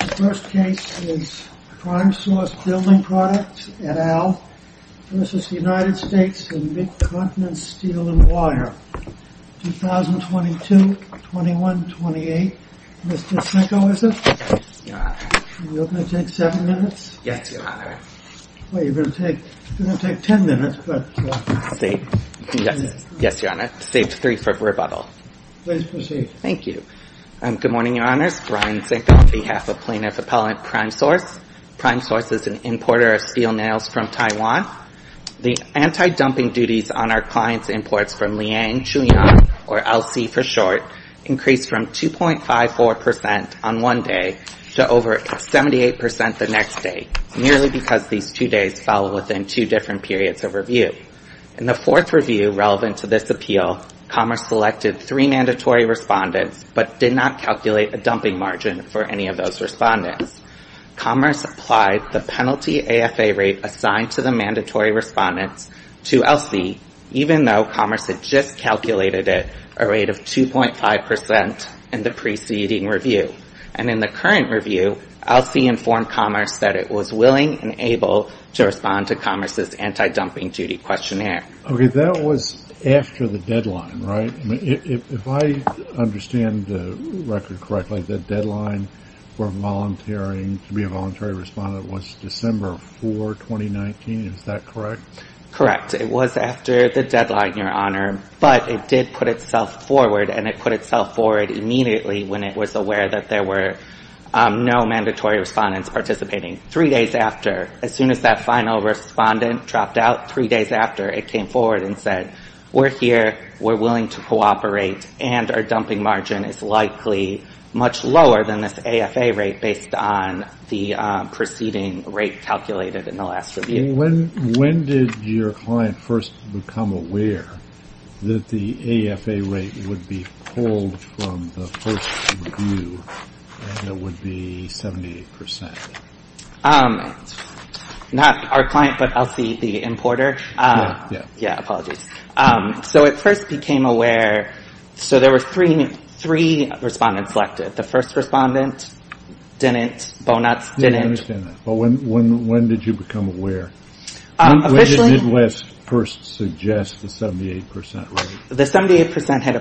The first case is CrimeSource Building Products, et al., v. United States, in Mid-Continent Steel and Wire, 2022-21-28. Mr. Sinko, is it? Yes, Your Honor. Are you open to take seven minutes? Yes, Your Honor. Well, you're going to take ten minutes, but... Yes, Your Honor. Save three for rebuttal. Please proceed. Thank you. Good morning, Your Honors. Brian Sinko on behalf of Plaintiff Appellant CrimeSource. CrimeSource is an importer of steel nails from Taiwan. The anti-dumping duties on our clients' imports from Liang, Chunyang, or LC for short, increased from 2.54 percent on one day to over 78 percent the next day, merely because these two days fell within two different periods of review. In the fourth review relevant to this appeal, Commerce selected three mandatory respondents, but did not calculate a dumping margin for any of those respondents. Commerce applied the penalty AFA rate assigned to the mandatory respondents to LC, even though Commerce had just calculated it a rate of 2.5 percent in the preceding review. And in the current review, LC informed Commerce that it was willing and able to respond to Commerce's anti-dumping duty questionnaire. Okay, that was after the deadline, right? If I understand the record correctly, the deadline for volunteering to be a voluntary respondent was December 4, 2019. Is that correct? Correct. It was after the deadline, Your Honor. But it did put itself forward, and it put itself forward immediately when it was aware that there were no mandatory respondents participating. Three days after, as soon as that final respondent dropped out, three days after it came forward and said, we're here, we're willing to cooperate, and our dumping margin is likely much lower than this AFA rate based on the preceding rate calculated in the last review. When did your client first become aware that the AFA rate would be pulled from the first review and it would be 78 percent? Yeah, apologies. So it first became aware, so there were three respondents selected. The first respondent didn't, Bonatz didn't. I understand that. But when did you become aware? When did Midwest first suggest the 78 percent rate? The 78 percent had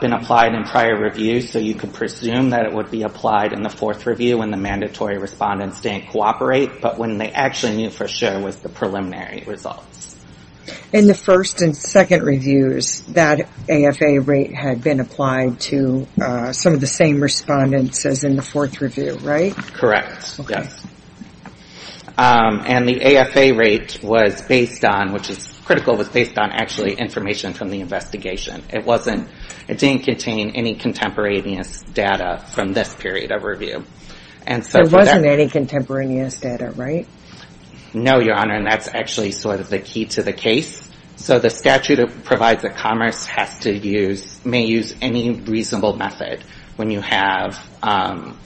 been applied in prior reviews, so you could presume that it would be applied in the fourth review when the mandatory respondents didn't cooperate, but when they actually knew for sure it was the preliminary results. In the first and second reviews, that AFA rate had been applied to some of the same respondents as in the fourth review, right? Correct, yes. And the AFA rate was based on, which is critical, was based on actually information from the investigation. It didn't contain any contemporaneous data from this period of review. There wasn't any contemporaneous data, right? No, Your Honor, and that's actually sort of the key to the case. So the statute provides that Commerce has to use, may use any reasonable method when you have,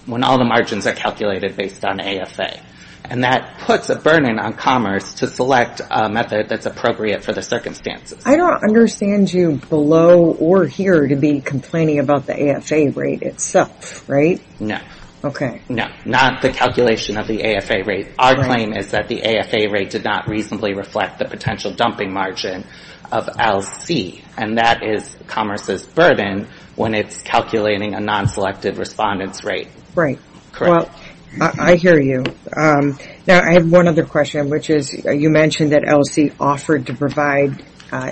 when all the margins are calculated based on AFA. And that puts a burden on Commerce to select a method that's appropriate for the circumstances. I don't understand you below or here to be complaining about the AFA rate itself, right? No. Okay. No, not the calculation of the AFA rate. Our claim is that the AFA rate did not reasonably reflect the potential dumping margin of LC, and that is Commerce's burden when it's calculating a non-selected respondent's rate. Right. Correct. Well, I hear you. Now, I have one other question, which is you mentioned that LC offered to provide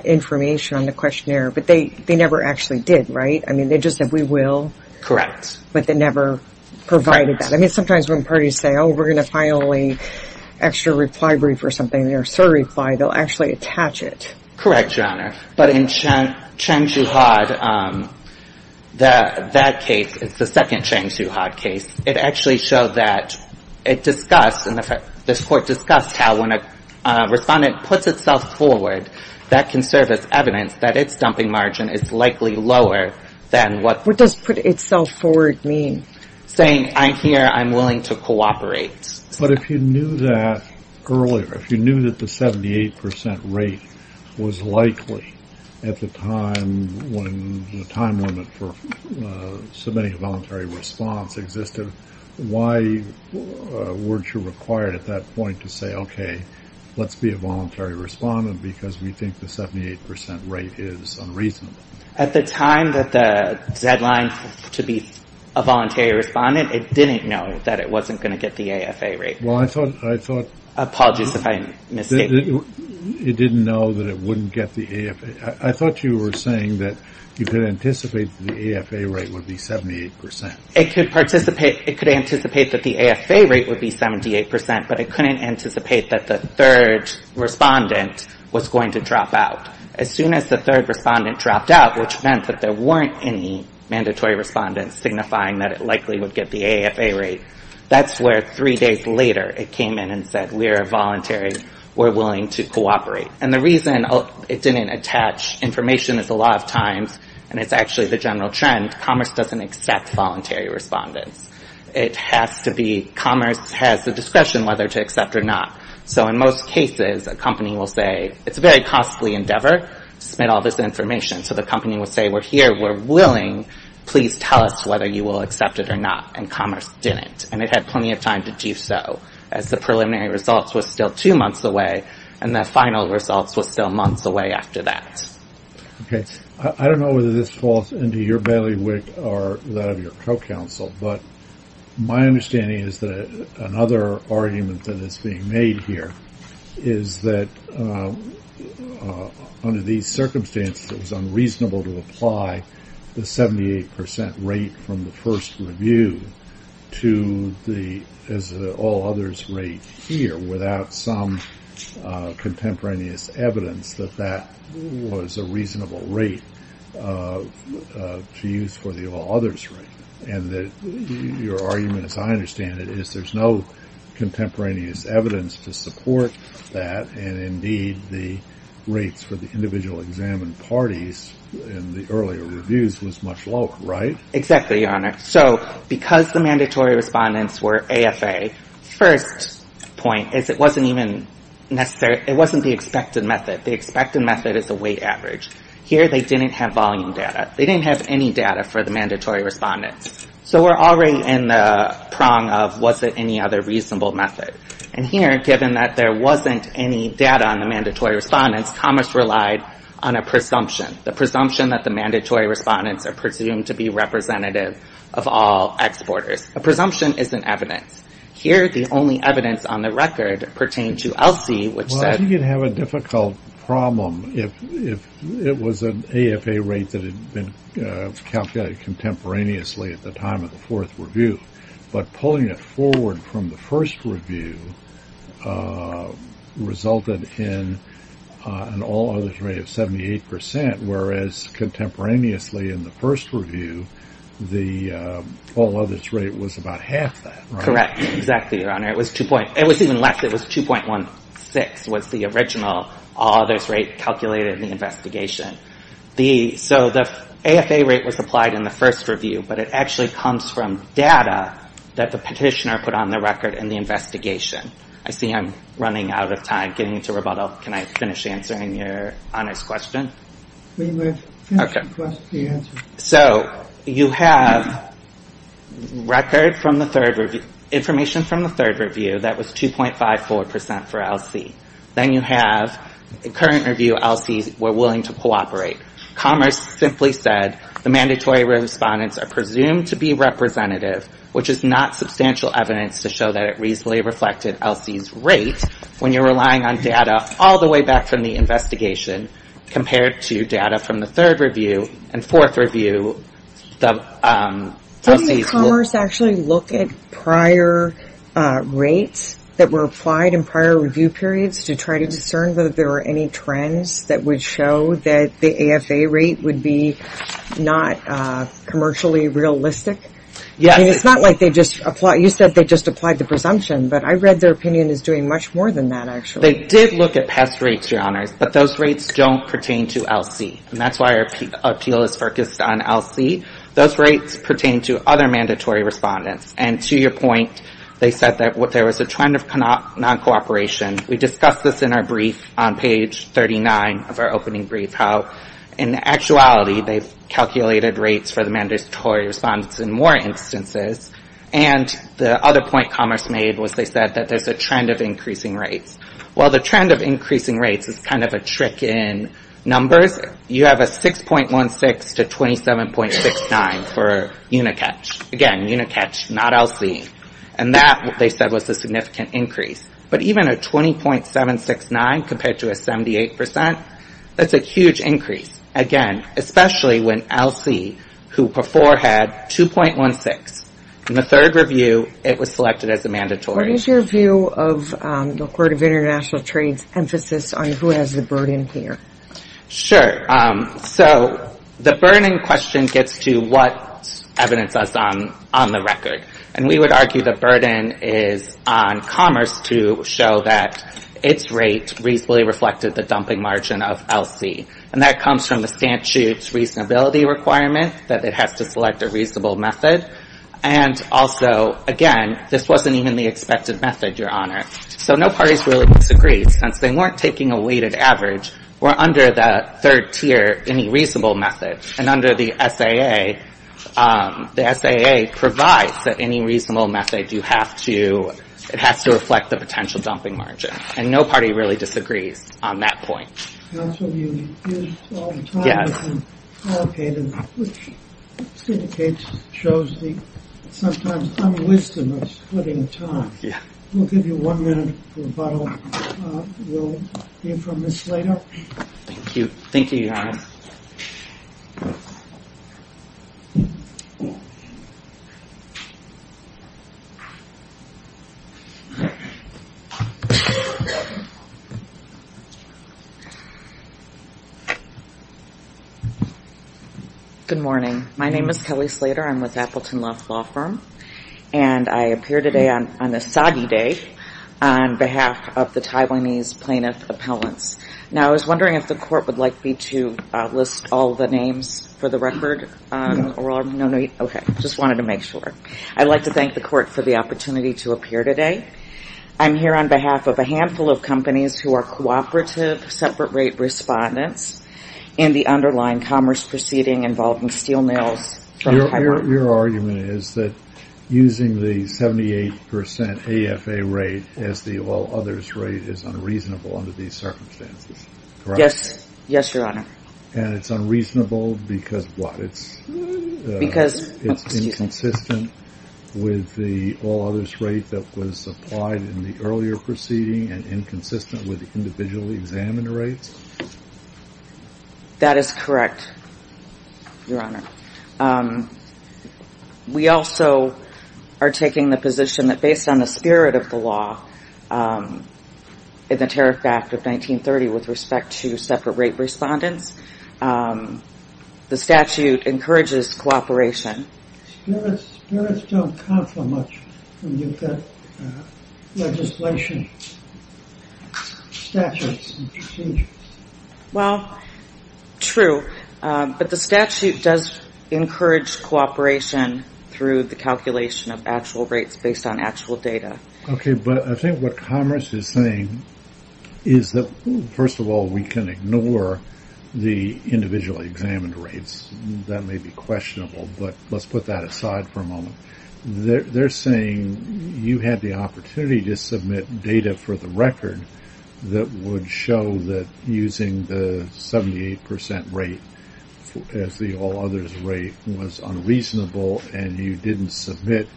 information on the questionnaire, but they never actually did, right? I mean, they just said we will. Correct. But they never provided that. Correct. I mean, sometimes when parties say, oh, we're going to file an extra reply brief or something, or a surreply, they'll actually attach it. Correct, Your Honor. But in Chang-Shuhad, that case, it's the second Chang-Shuhad case. It actually showed that it discussed, and this court discussed how when a respondent puts itself forward, that can serve as evidence that its dumping margin is likely lower than what the court said. What does put itself forward mean? Saying I'm here, I'm willing to cooperate. But if you knew that earlier, if you knew that the 78% rate was likely at the time when the time limit for submitting a voluntary response existed, why weren't you required at that point to say, okay, let's be a voluntary respondent because we think the 78% rate is unreasonable? At the time that the deadline to be a voluntary respondent, it didn't know that it wasn't going to get the AFA rate. Apologies if I misstated. It didn't know that it wouldn't get the AFA. I thought you were saying that you could anticipate the AFA rate would be 78%. It could anticipate that the AFA rate would be 78%, but it couldn't anticipate that the third respondent was going to drop out. As soon as the third respondent dropped out, which meant that there weren't any mandatory respondents signifying that it likely would get the AFA rate, that's where three days later it came in and said, we are voluntary, we're willing to cooperate. And the reason it didn't attach information is a lot of times, and it's actually the general trend, commerce doesn't accept voluntary respondents. It has to be commerce has the discretion whether to accept or not. So in most cases, a company will say, it's a very costly endeavor to submit all this information. So the company will say, we're here, we're willing, please tell us whether you will accept it or not. And commerce didn't. And it had plenty of time to do so, as the preliminary results were still two months away, and the final results were still months away after that. Okay. I don't know whether this falls into your bailiwick or that of your co-counsel, but my understanding is that another argument that is being made here is that under these circumstances, it was unreasonable to apply the 78% rate from the first review to the all others rate here, without some contemporaneous evidence that that was a reasonable rate to use for the all others rate. And your argument, as I understand it, is there's no contemporaneous evidence to support that, and indeed the rates for the individual examined parties in the earlier reviews was much lower, right? Exactly, Your Honor. So because the mandatory respondents were AFA, the first point is it wasn't even necessary. It wasn't the expected method. The expected method is the weight average. Here they didn't have volume data. They didn't have any data for the mandatory respondents. So we're already in the prong of was it any other reasonable method. And here, given that there wasn't any data on the mandatory respondents, Thomas relied on a presumption, the presumption that the mandatory respondents are presumed to be representative of all exporters. A presumption isn't evidence. Here the only evidence on the record pertained to ELSI, which said Well, I think you'd have a difficult problem if it was an AFA rate that had been calculated contemporaneously at the time of the fourth review. But pulling it forward from the first review resulted in an all-others rate of 78%, whereas contemporaneously in the first review, the all-others rate was about half that, right? Correct. Exactly, Your Honor. It was even less. It was 2.16 was the original all-others rate calculated in the investigation. So the AFA rate was applied in the first review, but it actually comes from data that the petitioner put on the record in the investigation. I see I'm running out of time, getting into rebuttal. Can I finish answering Your Honor's question? We will finish the question and answer it. So you have record from the third review, that was 2.54% for ELSI. Then you have current review ELSIs were willing to cooperate. Commerce simply said the mandatory respondents are presumed to be representative, which is not substantial evidence to show that it reasonably reflected ELSI's rate when you're relying on data all the way back from the investigation compared to data from the third review and fourth review. Didn't Commerce actually look at prior rates that were applied in prior review periods to try to discern whether there were any trends that would show that the AFA rate would be not commercially realistic? Yes. It's not like they just applied, you said they just applied the presumption, but I read their opinion is doing much more than that actually. but those rates don't pertain to ELSI. And that's why our appeal is focused on ELSI. Those rates pertain to other mandatory respondents. And to your point, they said that there was a trend of non-cooperation. We discussed this in our brief on page 39 of our opening brief, how in actuality they've calculated rates for the mandatory respondents in more instances. And the other point Commerce made was they said that there's a trend of increasing rates. Well, the trend of increasing rates is kind of a trick in numbers. You have a 6.16 to 27.69 for UNICATCH. Again, UNICATCH, not ELSI. And that, they said, was a significant increase. But even a 20.769 compared to a 78%, that's a huge increase. Again, especially when ELSI, who before had 2.16. In the third review, it was selected as a mandatory. What is your view of the Court of International Trade's emphasis on who has the burden here? Sure. So the burden in question gets to what evidence is on the record. And we would argue the burden is on Commerce to show that its rate reasonably reflected the dumping margin of ELSI. And that comes from the statute's reasonability requirement that it has to select a reasonable method. And also, again, this wasn't even the expected method, Your Honor. So no parties really disagreed. Since they weren't taking a weighted average, we're under the third tier, any reasonable method. And under the SAA, the SAA provides that any reasonable method you have to, it has to reflect the potential dumping margin. And no party really disagrees on that point. Counsel, you use all the time. Yes. Okay, which indicates, shows the sometimes unwisdom of splitting time. Yeah. We'll give you one minute rebuttal. We'll hear from Ms. Slater. Thank you. Thank you, Your Honor. Good morning. My name is Kelly Slater. I'm with Appleton Love Law Firm. And I appear today on a soggy day on behalf of the Taiwanese plaintiff appellants. Now, I was wondering if the court would like me to list all the names for the record. No need. Okay, just wanted to make sure. I'd like to thank the court for the opportunity to appear today. I'm here on behalf of a handful of companies who are cooperative, separate-rate respondents in the underlying commerce proceeding involving steel mills. Your argument is that using the 78% AFA rate as the all-others rate is unreasonable under these circumstances, correct? Yes. Yes, Your Honor. And it's unreasonable because what? It's inconsistent with the all-others rate that was applied in the earlier proceeding and inconsistent with the individual examiner rates? That is correct, Your Honor. We also are taking the position that based on the spirit of the law in the Tariff Act of 1930 with respect to separate-rate respondents, the statute encourages cooperation. Spirits don't count so much when you've got legislation, statutes, and procedures. Well, true, but the statute does encourage cooperation through the calculation of actual rates based on actual data. Okay, but I think what commerce is saying is that, first of all, we can ignore the individually examined rates. That may be questionable, but let's put that aside for a moment. They're saying you had the opportunity to submit data for the record that would show that using the 78% rate as the all-others rate was unreasonable and you didn't submit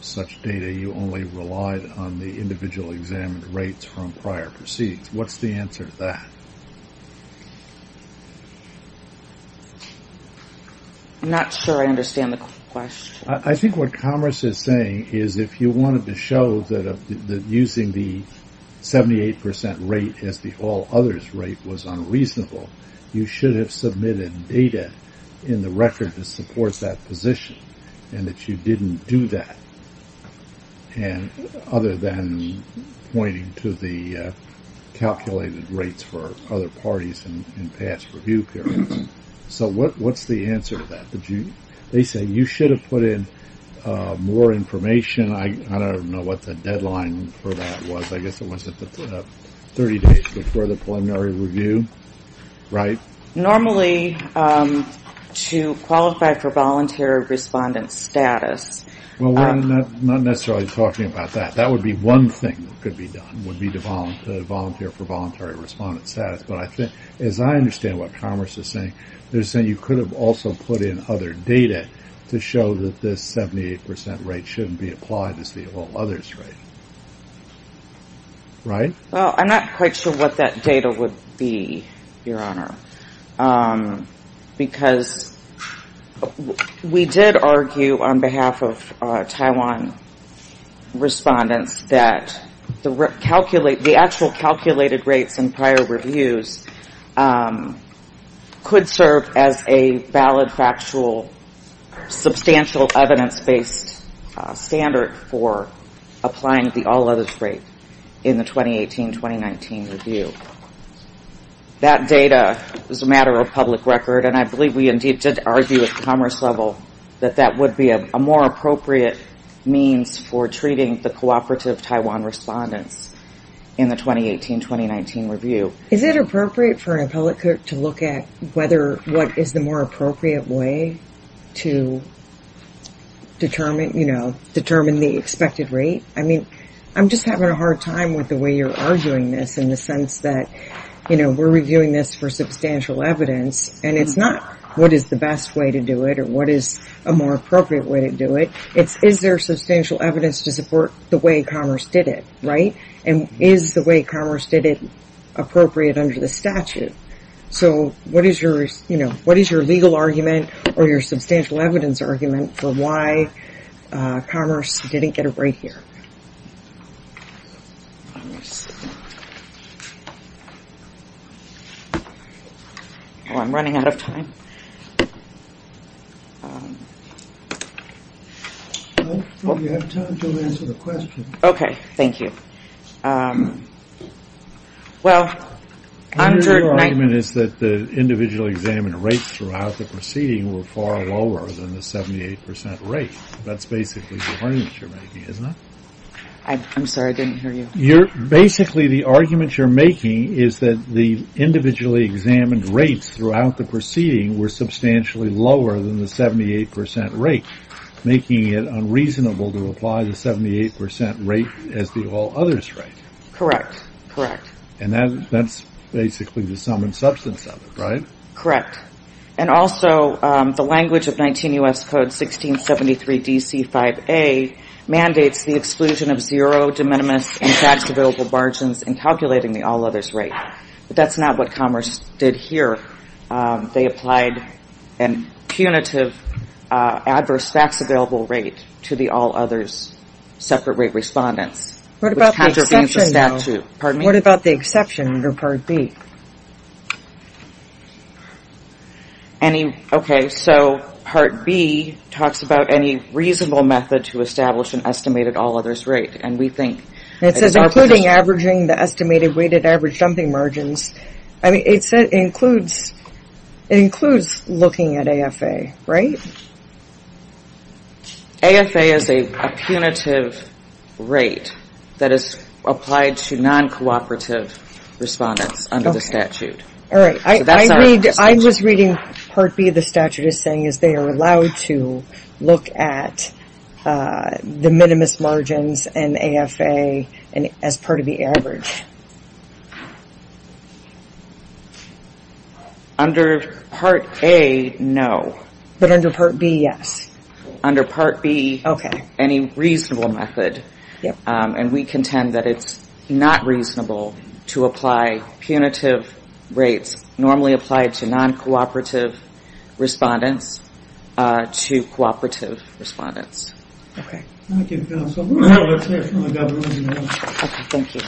such data, you only relied on the individual examined rates from prior proceedings. What's the answer to that? I'm not sure I understand the question. I think what commerce is saying is if you wanted to show that using the 78% rate as the all-others rate was unreasonable, you should have submitted data in the record that supports that position and that you didn't do that, other than pointing to the calculated rates for other parties in past review periods. So what's the answer to that? They say you should have put in more information. I don't know what the deadline for that was. I guess it was 30 days before the preliminary review, right? Normally, to qualify for voluntary respondent status. Well, we're not necessarily talking about that. That would be one thing that could be done, would be to volunteer for voluntary respondent status. But as I understand what commerce is saying, they're saying you could have also put in other data to show that this 78% rate shouldn't be applied as the all-others rate. Right? Well, I'm not quite sure what that data would be, Your Honor. Because we did argue on behalf of Taiwan respondents that the actual calculated rates in prior reviews could serve as a valid, factual, substantial evidence-based standard for applying the all-others rate in the 2018-2019 review. That data is a matter of public record, and I believe we indeed did argue at the commerce level that that would be a more appropriate means for treating the cooperative Taiwan respondents in the 2018-2019 review. Is it appropriate for an appellate court to look at what is the more appropriate way to determine the expected rate? I'm just having a hard time with the way you're arguing this in the sense that we're reviewing this for substantial evidence, and it's not what is the best way to do it or what is a more appropriate way to do it. It's is there substantial evidence to support the way commerce did it, right? And is the way commerce did it appropriate under the statute? So what is your legal argument or your substantial evidence argument for why commerce didn't get a rate here? I'm running out of time. Well, you have time to answer the question. Okay, thank you. My legal argument is that the individually examined rates throughout the proceeding were far lower than the 78 percent rate. That's basically the argument you're making, isn't it? I'm sorry, I didn't hear you. Basically, the argument you're making is that the individually examined rates throughout the proceeding were substantially lower than the 78 percent rate, making it unreasonable to apply the 78 percent rate as the all others rate. Correct, correct. And that's basically the sum and substance of it, right? Correct. And also the language of 19 U.S. Code 1673 D.C. 5A mandates the exclusion of zero, de minimis, and tax-available margins in calculating the all others rate. But that's not what commerce did here. They applied a punitive adverse tax-available rate to the all others separate rate respondents. What about the exception, though? Pardon me? What about the exception under Part B? Okay, so Part B talks about any reasonable method to establish an estimated all others rate. And it says including averaging the estimated weighted average dumping margins. I mean, it includes looking at AFA, right? AFA is a punitive rate that is applied to non-cooperative respondents under the statute. All right. I was reading Part B of the statute as saying they are allowed to look at the minimis margins and AFA as part of the average. Under Part A, no. But under Part B, yes. Under Part B, any reasonable method. And we contend that it's not reasonable to apply punitive rates normally applied to non-cooperative respondents to cooperative respondents. Okay. Thank you, counsel. Let's hear from the government again. Okay, thank you.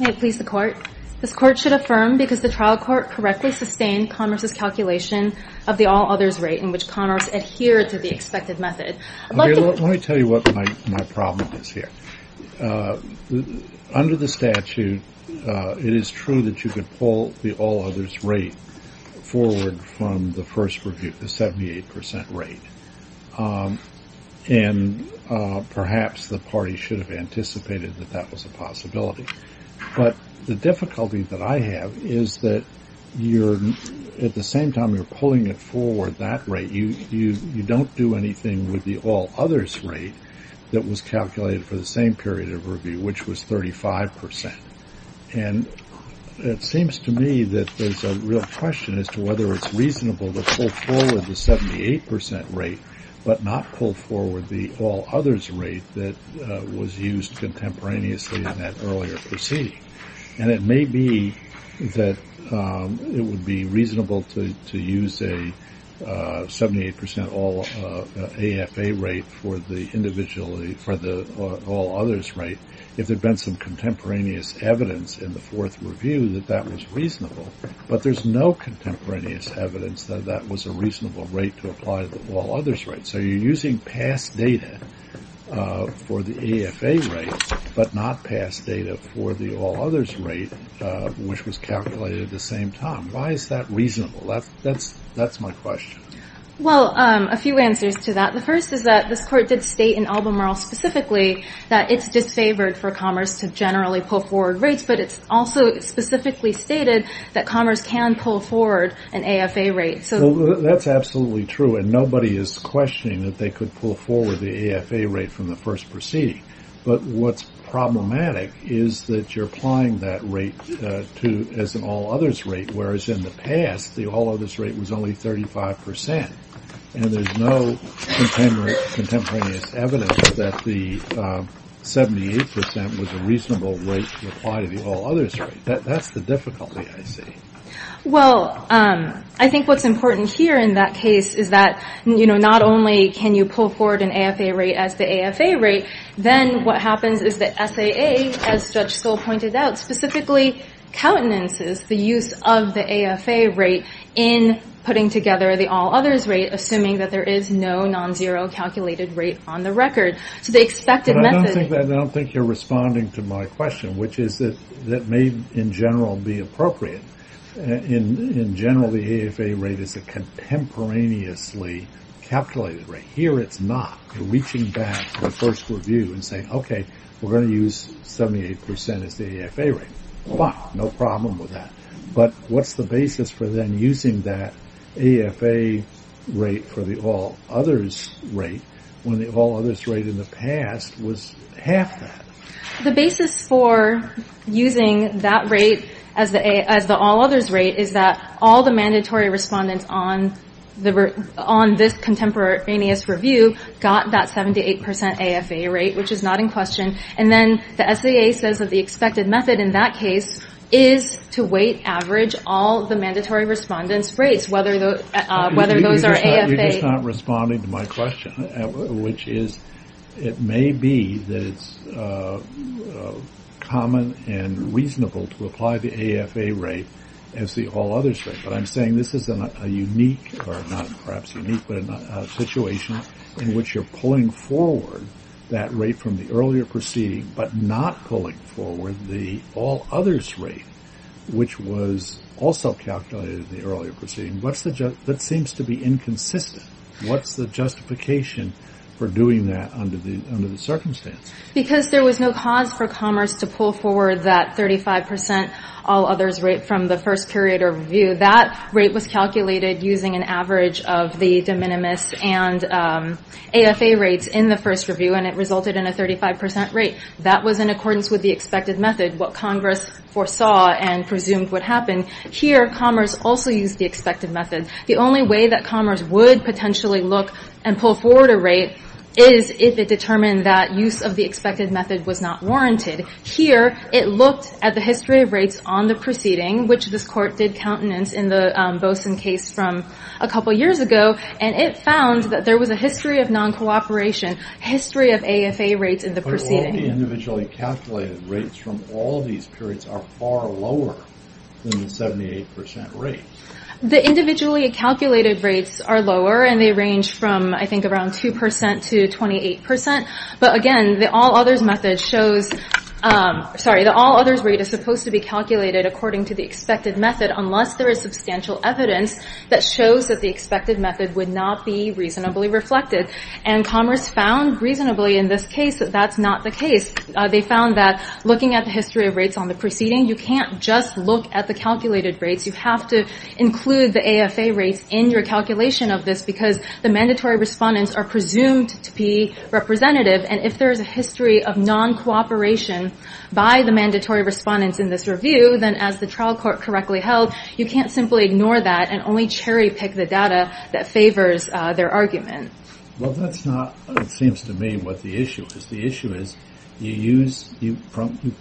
May it please the Court? This Court should affirm because the trial court correctly sustained Connors' calculation of the all others rate in which Connors adhered to the expected method. Let me tell you what my problem is here. Under the statute, it is true that you could pull the all others rate forward from the first review, the 78 percent rate. And perhaps the party should have anticipated that that was a possibility. But the difficulty that I have is that at the same time you're pulling it forward that rate, you don't do anything with the all others rate that was calculated for the same period of review, which was 35 percent. And it seems to me that there's a real question as to whether it's reasonable to pull forward the 78 percent rate but not pull forward the all others rate that was used contemporaneously in that earlier proceeding. And it may be that it would be reasonable to use a 78 percent all AFA rate for the all others rate if there had been some contemporaneous evidence in the fourth review that that was reasonable. But there's no contemporaneous evidence that that was a reasonable rate to apply to the all others rate. So you're using past data for the AFA rate but not past data for the all others rate, which was calculated at the same time. Why is that reasonable? That's my question. Well, a few answers to that. The first is that this court did state in Albemarle specifically that it's disfavored for Connors to generally pull forward rates. But it's also specifically stated that Connors can pull forward an AFA rate. So that's absolutely true. And nobody is questioning that they could pull forward the AFA rate from the first proceeding. But what's problematic is that you're applying that rate to as an all others rate, whereas in the past, the all others rate was only 35 percent. And there's no contemporaneous evidence that the 78 percent was a reasonable rate to apply to the all others rate. That's the difficulty I see. Well, I think what's important here in that case is that, you know, not only can you pull forward an AFA rate as the AFA rate, then what happens is that SAA, as Judge Skoll pointed out, specifically countenances the use of the AFA rate in putting together the all others rate, assuming that there is no non-zero calculated rate on the record. So the expected method... I don't think you're responding to my question, which is that may in general be appropriate. In general, the AFA rate is a contemporaneously calculated rate. Here it's not. You're reaching back to the first review and saying, okay, we're going to use 78 percent as the AFA rate. No problem with that. But what's the basis for then using that AFA rate for the all others rate when the all others rate in the past was half that? The basis for using that rate as the all others rate is that all the mandatory respondents on this contemporaneous review got that 78 percent AFA rate, which is not in question. And then the SAA says that the expected method in that case is to weight average all the mandatory respondents' rates, whether those are AFA... You're just not responding to my question, which is it may be that it's common and reasonable to apply the AFA rate as the all others rate. But I'm saying this is a unique, or not perhaps unique, but a situation in which you're pulling forward that rate from the earlier proceeding, but not pulling forward the all others rate, which was also calculated in the earlier proceeding. That seems to be inconsistent. What's the justification for doing that under the circumstance? Because there was no cause for Commerce to pull forward that 35 percent all others rate from the first period of review. That rate was calculated using an average of the de minimis and AFA rates in the first review, and it resulted in a 35 percent rate. That was in accordance with the expected method, what Congress foresaw and presumed would happen. Here, Commerce also used the expected method. The only way that Commerce would potentially look and pull forward a rate is if it determined that use of the expected method was not warranted. Here, it looked at the history of rates on the proceeding, which this court did countenance in the Boson case from a couple years ago, and it found that there was a history of non-cooperation, history of AFA rates in the proceeding. But all the individually calculated rates from all these periods are far lower than the 78 percent rate. The individually calculated rates are lower, and they range from I think around 2 percent to 28 percent. But again, the all others rate is supposed to be calculated according to the expected method unless there is substantial evidence that shows that the expected method would not be reasonably reflected. And Commerce found reasonably in this case that that's not the case. They found that looking at the history of rates on the proceeding, you can't just look at the calculated rates. You have to include the AFA rates in your calculation of this because the mandatory respondents are presumed to be representative. And if there is a history of non-cooperation by the mandatory respondents in this review, then as the trial court correctly held, you can't simply ignore that and only cherry-pick the data that favors their argument. Well, that's not, it seems to me, what the issue is. The issue is you use, you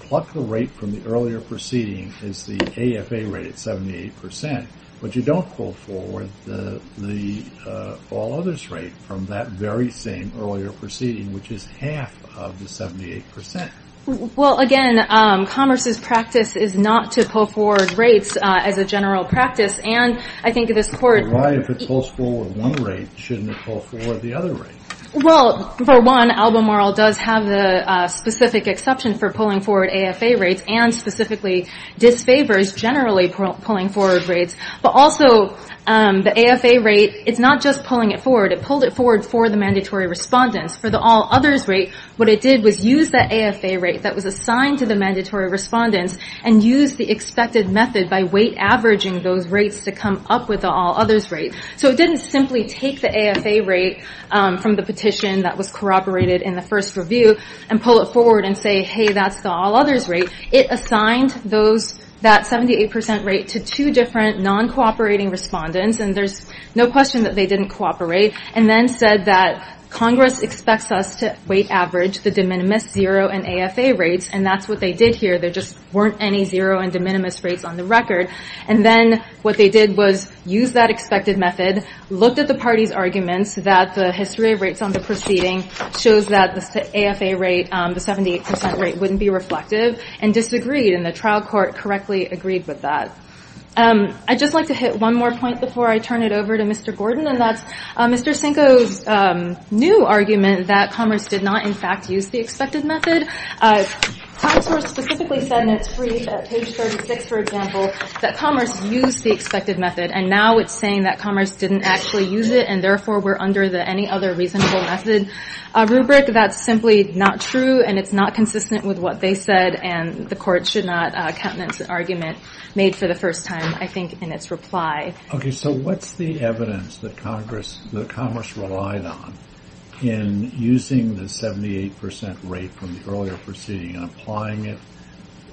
pluck the rate from the earlier proceeding as the AFA rate at 78 percent, but you don't pull forward the all others rate from that very same earlier proceeding, which is half of the 78 percent. Well, again, Commerce's practice is not to pull forward rates as a general practice. And I think this court- But why if it pulls forward one rate, shouldn't it pull forward the other rate? Well, for one, Albemarle does have the specific exception for pulling forward AFA rates and specifically disfavors generally pulling forward rates. But also, the AFA rate, it's not just pulling it forward. It pulled it forward for the mandatory respondents. For the all others rate, what it did was use that AFA rate that was assigned to the mandatory respondents and use the expected method by weight averaging those rates to come up with the all others rate. So it didn't simply take the AFA rate from the petition that was corroborated in the first review and pull it forward and say, hey, that's the all others rate. It assigned that 78 percent rate to two different non-cooperating respondents, and there's no question that they didn't cooperate, and then said that Congress expects us to weight average the de minimis, zero, and AFA rates, and that's what they did here. There just weren't any zero and de minimis rates on the record. And then what they did was use that expected method, looked at the party's arguments that the history of rates on the proceeding shows that the AFA rate, the 78 percent rate wouldn't be reflective, and disagreed, and the trial court correctly agreed with that. I'd just like to hit one more point before I turn it over to Mr. Gordon, and that's Mr. Cinco's new argument that Congress did not, in fact, use the expected method. Times Square specifically said in its brief at page 36, for example, that Congress used the expected method, and now it's saying that Congress didn't actually use it, and therefore we're under the any other reasonable method rubric. That's simply not true, and it's not consistent with what they said, and the court should not count that as an argument made for the first time, I think, in its reply. Okay, so what's the evidence that Congress relied on in using the 78 percent rate from the earlier proceeding and applying it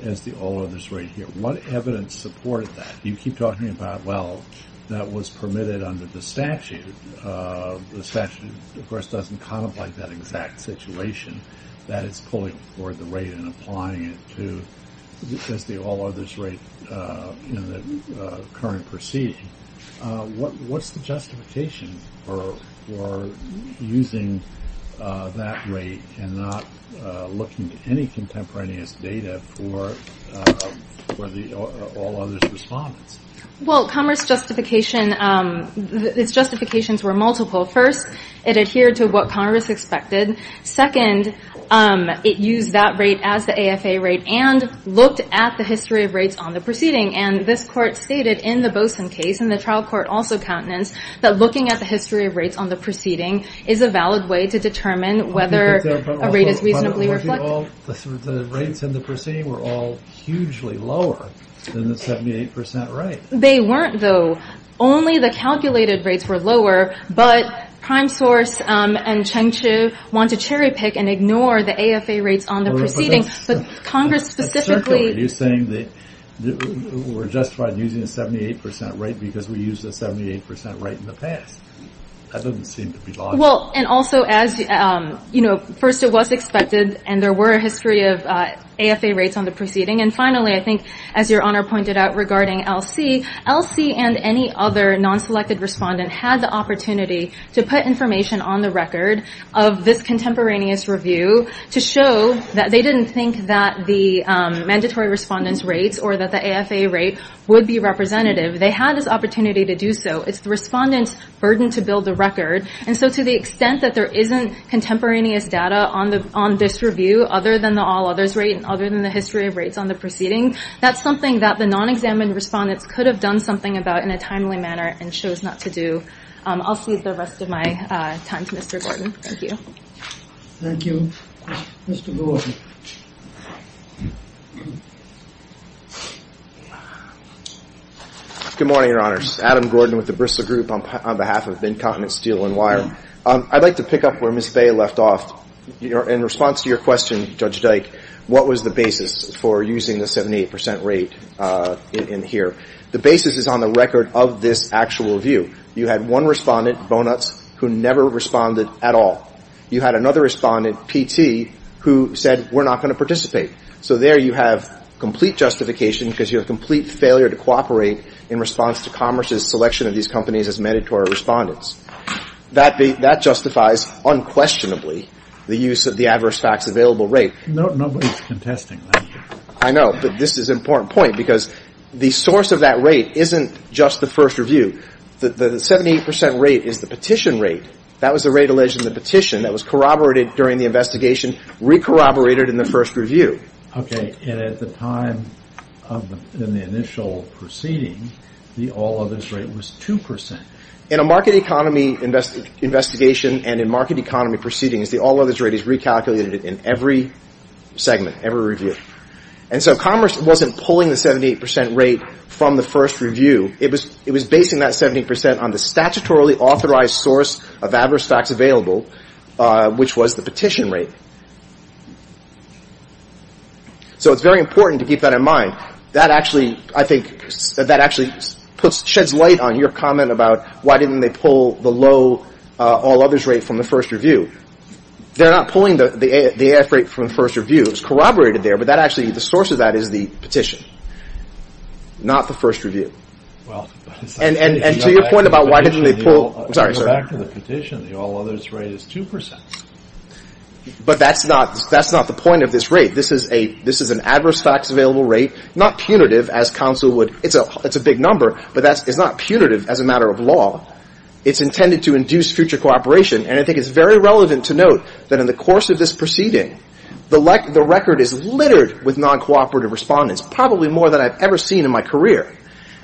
as the all others rate here? What evidence supported that? You keep talking about, well, that was permitted under the statute. The statute, of course, doesn't contemplate that exact situation, that it's pulling for the rate and applying it as the all others rate in the current proceeding. What's the justification for using that rate and not looking at any contemporaneous data for the all others response? Well, Congress justification, its justifications were multiple. First, it adhered to what Congress expected. Second, it used that rate as the AFA rate and looked at the history of rates on the proceeding, and this court stated in the Boson case, and the trial court also countenance, that looking at the history of rates on the proceeding is a valid way to determine whether a rate is reasonably reflected. But all the rates in the proceeding were all hugely lower than the 78 percent rate. They weren't, though. Only the calculated rates were lower, but Prime Source and Cheng Chu want to cherry pick and ignore the AFA rates on the proceeding, but Congress specifically- Are you saying that we're justified in using the 78 percent rate because we used the 78 percent rate in the past? That doesn't seem to be logical. Well, and also as, you know, first it was expected and there were a history of AFA rates on the proceeding, and finally, I think as your Honor pointed out regarding LC, LC and any other non-selected respondent had the opportunity to put information on the record of this contemporaneous review to show that they didn't think that the mandatory respondent's rates or that the AFA rate would be representative. They had this opportunity to do so. It's the respondent's burden to build the record, and so to the extent that there isn't contemporaneous data on this review, other than the all others rate and other than the history of rates on the proceeding, that's something that the non-examined respondents could have done something about in a timely manner and chose not to do. I'll cede the rest of my time to Mr. Gordon. Thank you. Thank you. Mr. Gordon. Good morning, Your Honors. Adam Gordon with the Bristol Group on behalf of Incontinent Steel and Wire. I'd like to pick up where Ms. Bay left off. In response to your question, Judge Dyke, what was the basis for using the 78 percent rate in here? The basis is on the record of this actual review. You had one respondent, Bonutz, who never responded at all. You had another respondent, P.T., who said we're not going to participate. So there you have complete justification because you have complete failure to cooperate in response to Commerce's selection of these companies as mandatory respondents. That justifies unquestionably the use of the adverse facts available rate. Nobody's contesting that here. I know, but this is an important point because the source of that rate isn't just the first review. The 78 percent rate is the petition rate. That was the rate alleged in the petition that was corroborated during the investigation, re-corroborated in the first review. Okay. And at the time in the initial proceeding, the all-others rate was 2 percent. In a market economy investigation and in market economy proceedings, the all-others rate is recalculated in every segment, every review. And so Commerce wasn't pulling the 78 percent rate from the first review. It was basing that 78 percent on the statutorily authorized source of adverse facts available, which was the petition rate. So it's very important to keep that in mind. Now, that actually, I think, that actually sheds light on your comment about why didn't they pull the low all-others rate from the first review. They're not pulling the AF rate from the first review. It was corroborated there, but that actually, the source of that is the petition, not the first review. And to your point about why didn't they pull the all-others rate is 2 percent. But that's not the point of this rate. This is an adverse facts available rate, not punitive, as counsel would ‑‑ it's a big number, but it's not punitive as a matter of law. It's intended to induce future cooperation. And I think it's very relevant to note that in the course of this proceeding, the record is littered with non-cooperative respondents, probably more than I've ever seen in my career.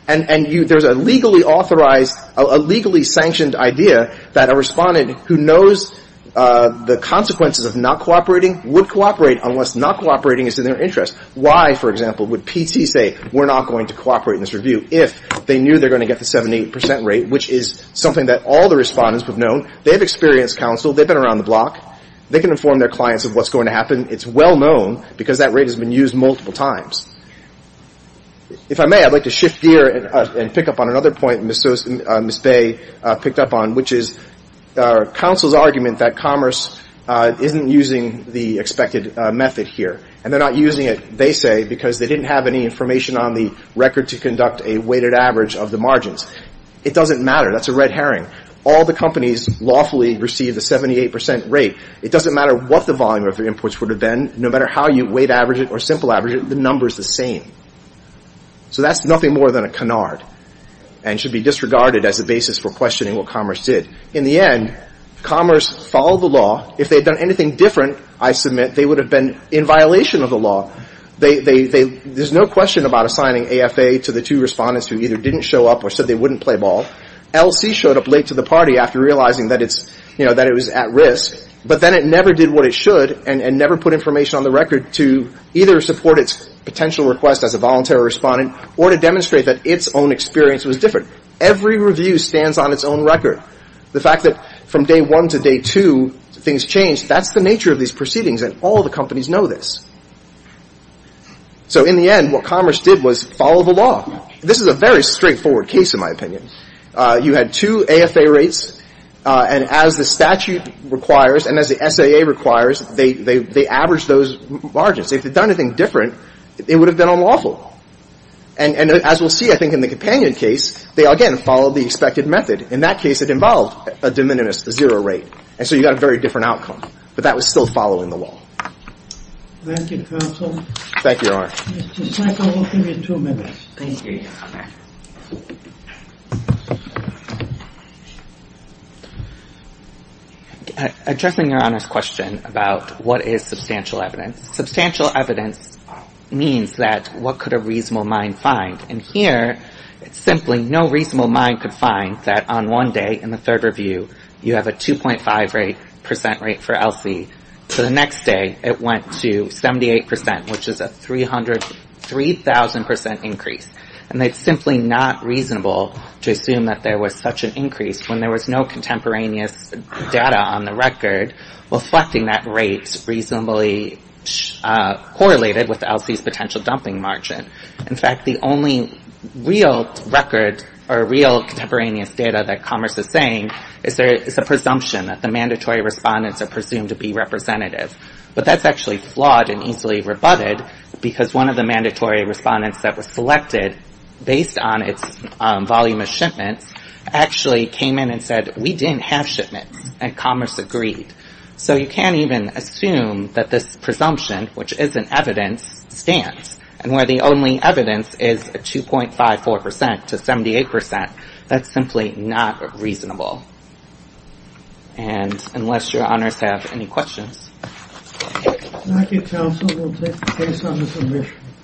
And there's a legally authorized, a legally sanctioned idea that a respondent who knows the consequences of not cooperating would cooperate unless not cooperating is in their interest. Why, for example, would PT say we're not going to cooperate in this review if they knew they're going to get the 78 percent rate, which is something that all the respondents have known. They have experience, counsel. They've been around the block. They can inform their clients of what's going to happen. It's well known because that rate has been used multiple times. If I may, I'd like to shift gear and pick up on another point Ms. Bay picked up on, which is counsel's argument that commerce isn't using the expected method here. And they're not using it, they say, because they didn't have any information on the record to conduct a weighted average of the margins. It doesn't matter. That's a red herring. All the companies lawfully receive the 78 percent rate. It doesn't matter what the volume of their inputs would have been. No matter how you weight average it or simple average it, the number is the same. So that's nothing more than a canard and should be disregarded as a basis for questioning what commerce did. In the end, commerce followed the law. If they had done anything different, I submit, they would have been in violation of the law. There's no question about assigning AFA to the two respondents who either didn't show up or said they wouldn't play ball. LC showed up late to the party after realizing that it was at risk, but then it never did what it should and never put information on the record to either support its potential request as a voluntary respondent or to demonstrate that its own experience was different. Every review stands on its own record. The fact that from day one to day two things changed, that's the nature of these proceedings, and all the companies know this. So in the end, what commerce did was follow the law. This is a very straightforward case, in my opinion. You had two AFA rates, and as the statute requires and as the SAA requires, they averaged those margins. If they'd done anything different, it would have been unlawful. And as we'll see, I think, in the companion case, they, again, followed the expected method. In that case, it involved a de minimis, a zero rate, and so you got a very different outcome. But that was still following the law. Thank you, counsel. Thank you, Your Honor. Mr. Schleifer, we'll give you two minutes. Thank you, Your Honor. Addressing Your Honor's question about what is substantial evidence, substantial evidence means that what could a reasonable mind find? And here, it's simply no reasonable mind could find that on one day in the third review, you have a 2.5% rate for ELSI. For the next day, it went to 78%, which is a 3,000% increase. And it's simply not reasonable to assume that there was such an increase when there was no contemporaneous data on the record, reflecting that rate reasonably correlated with ELSI's potential dumping margin. In fact, the only real record or real contemporaneous data that Commerce is saying is a presumption that the mandatory respondents are presumed to be representative. But that's actually flawed and easily rebutted because one of the mandatory respondents that was selected, based on its volume of shipments, actually came in and said, we didn't have shipments, and Commerce agreed. So you can't even assume that this presumption, which isn't evidence, stands. And where the only evidence is a 2.54% to 78%, that's simply not reasonable. And unless your honors have any questions. Thank you, counsel. We'll take the case on the submission.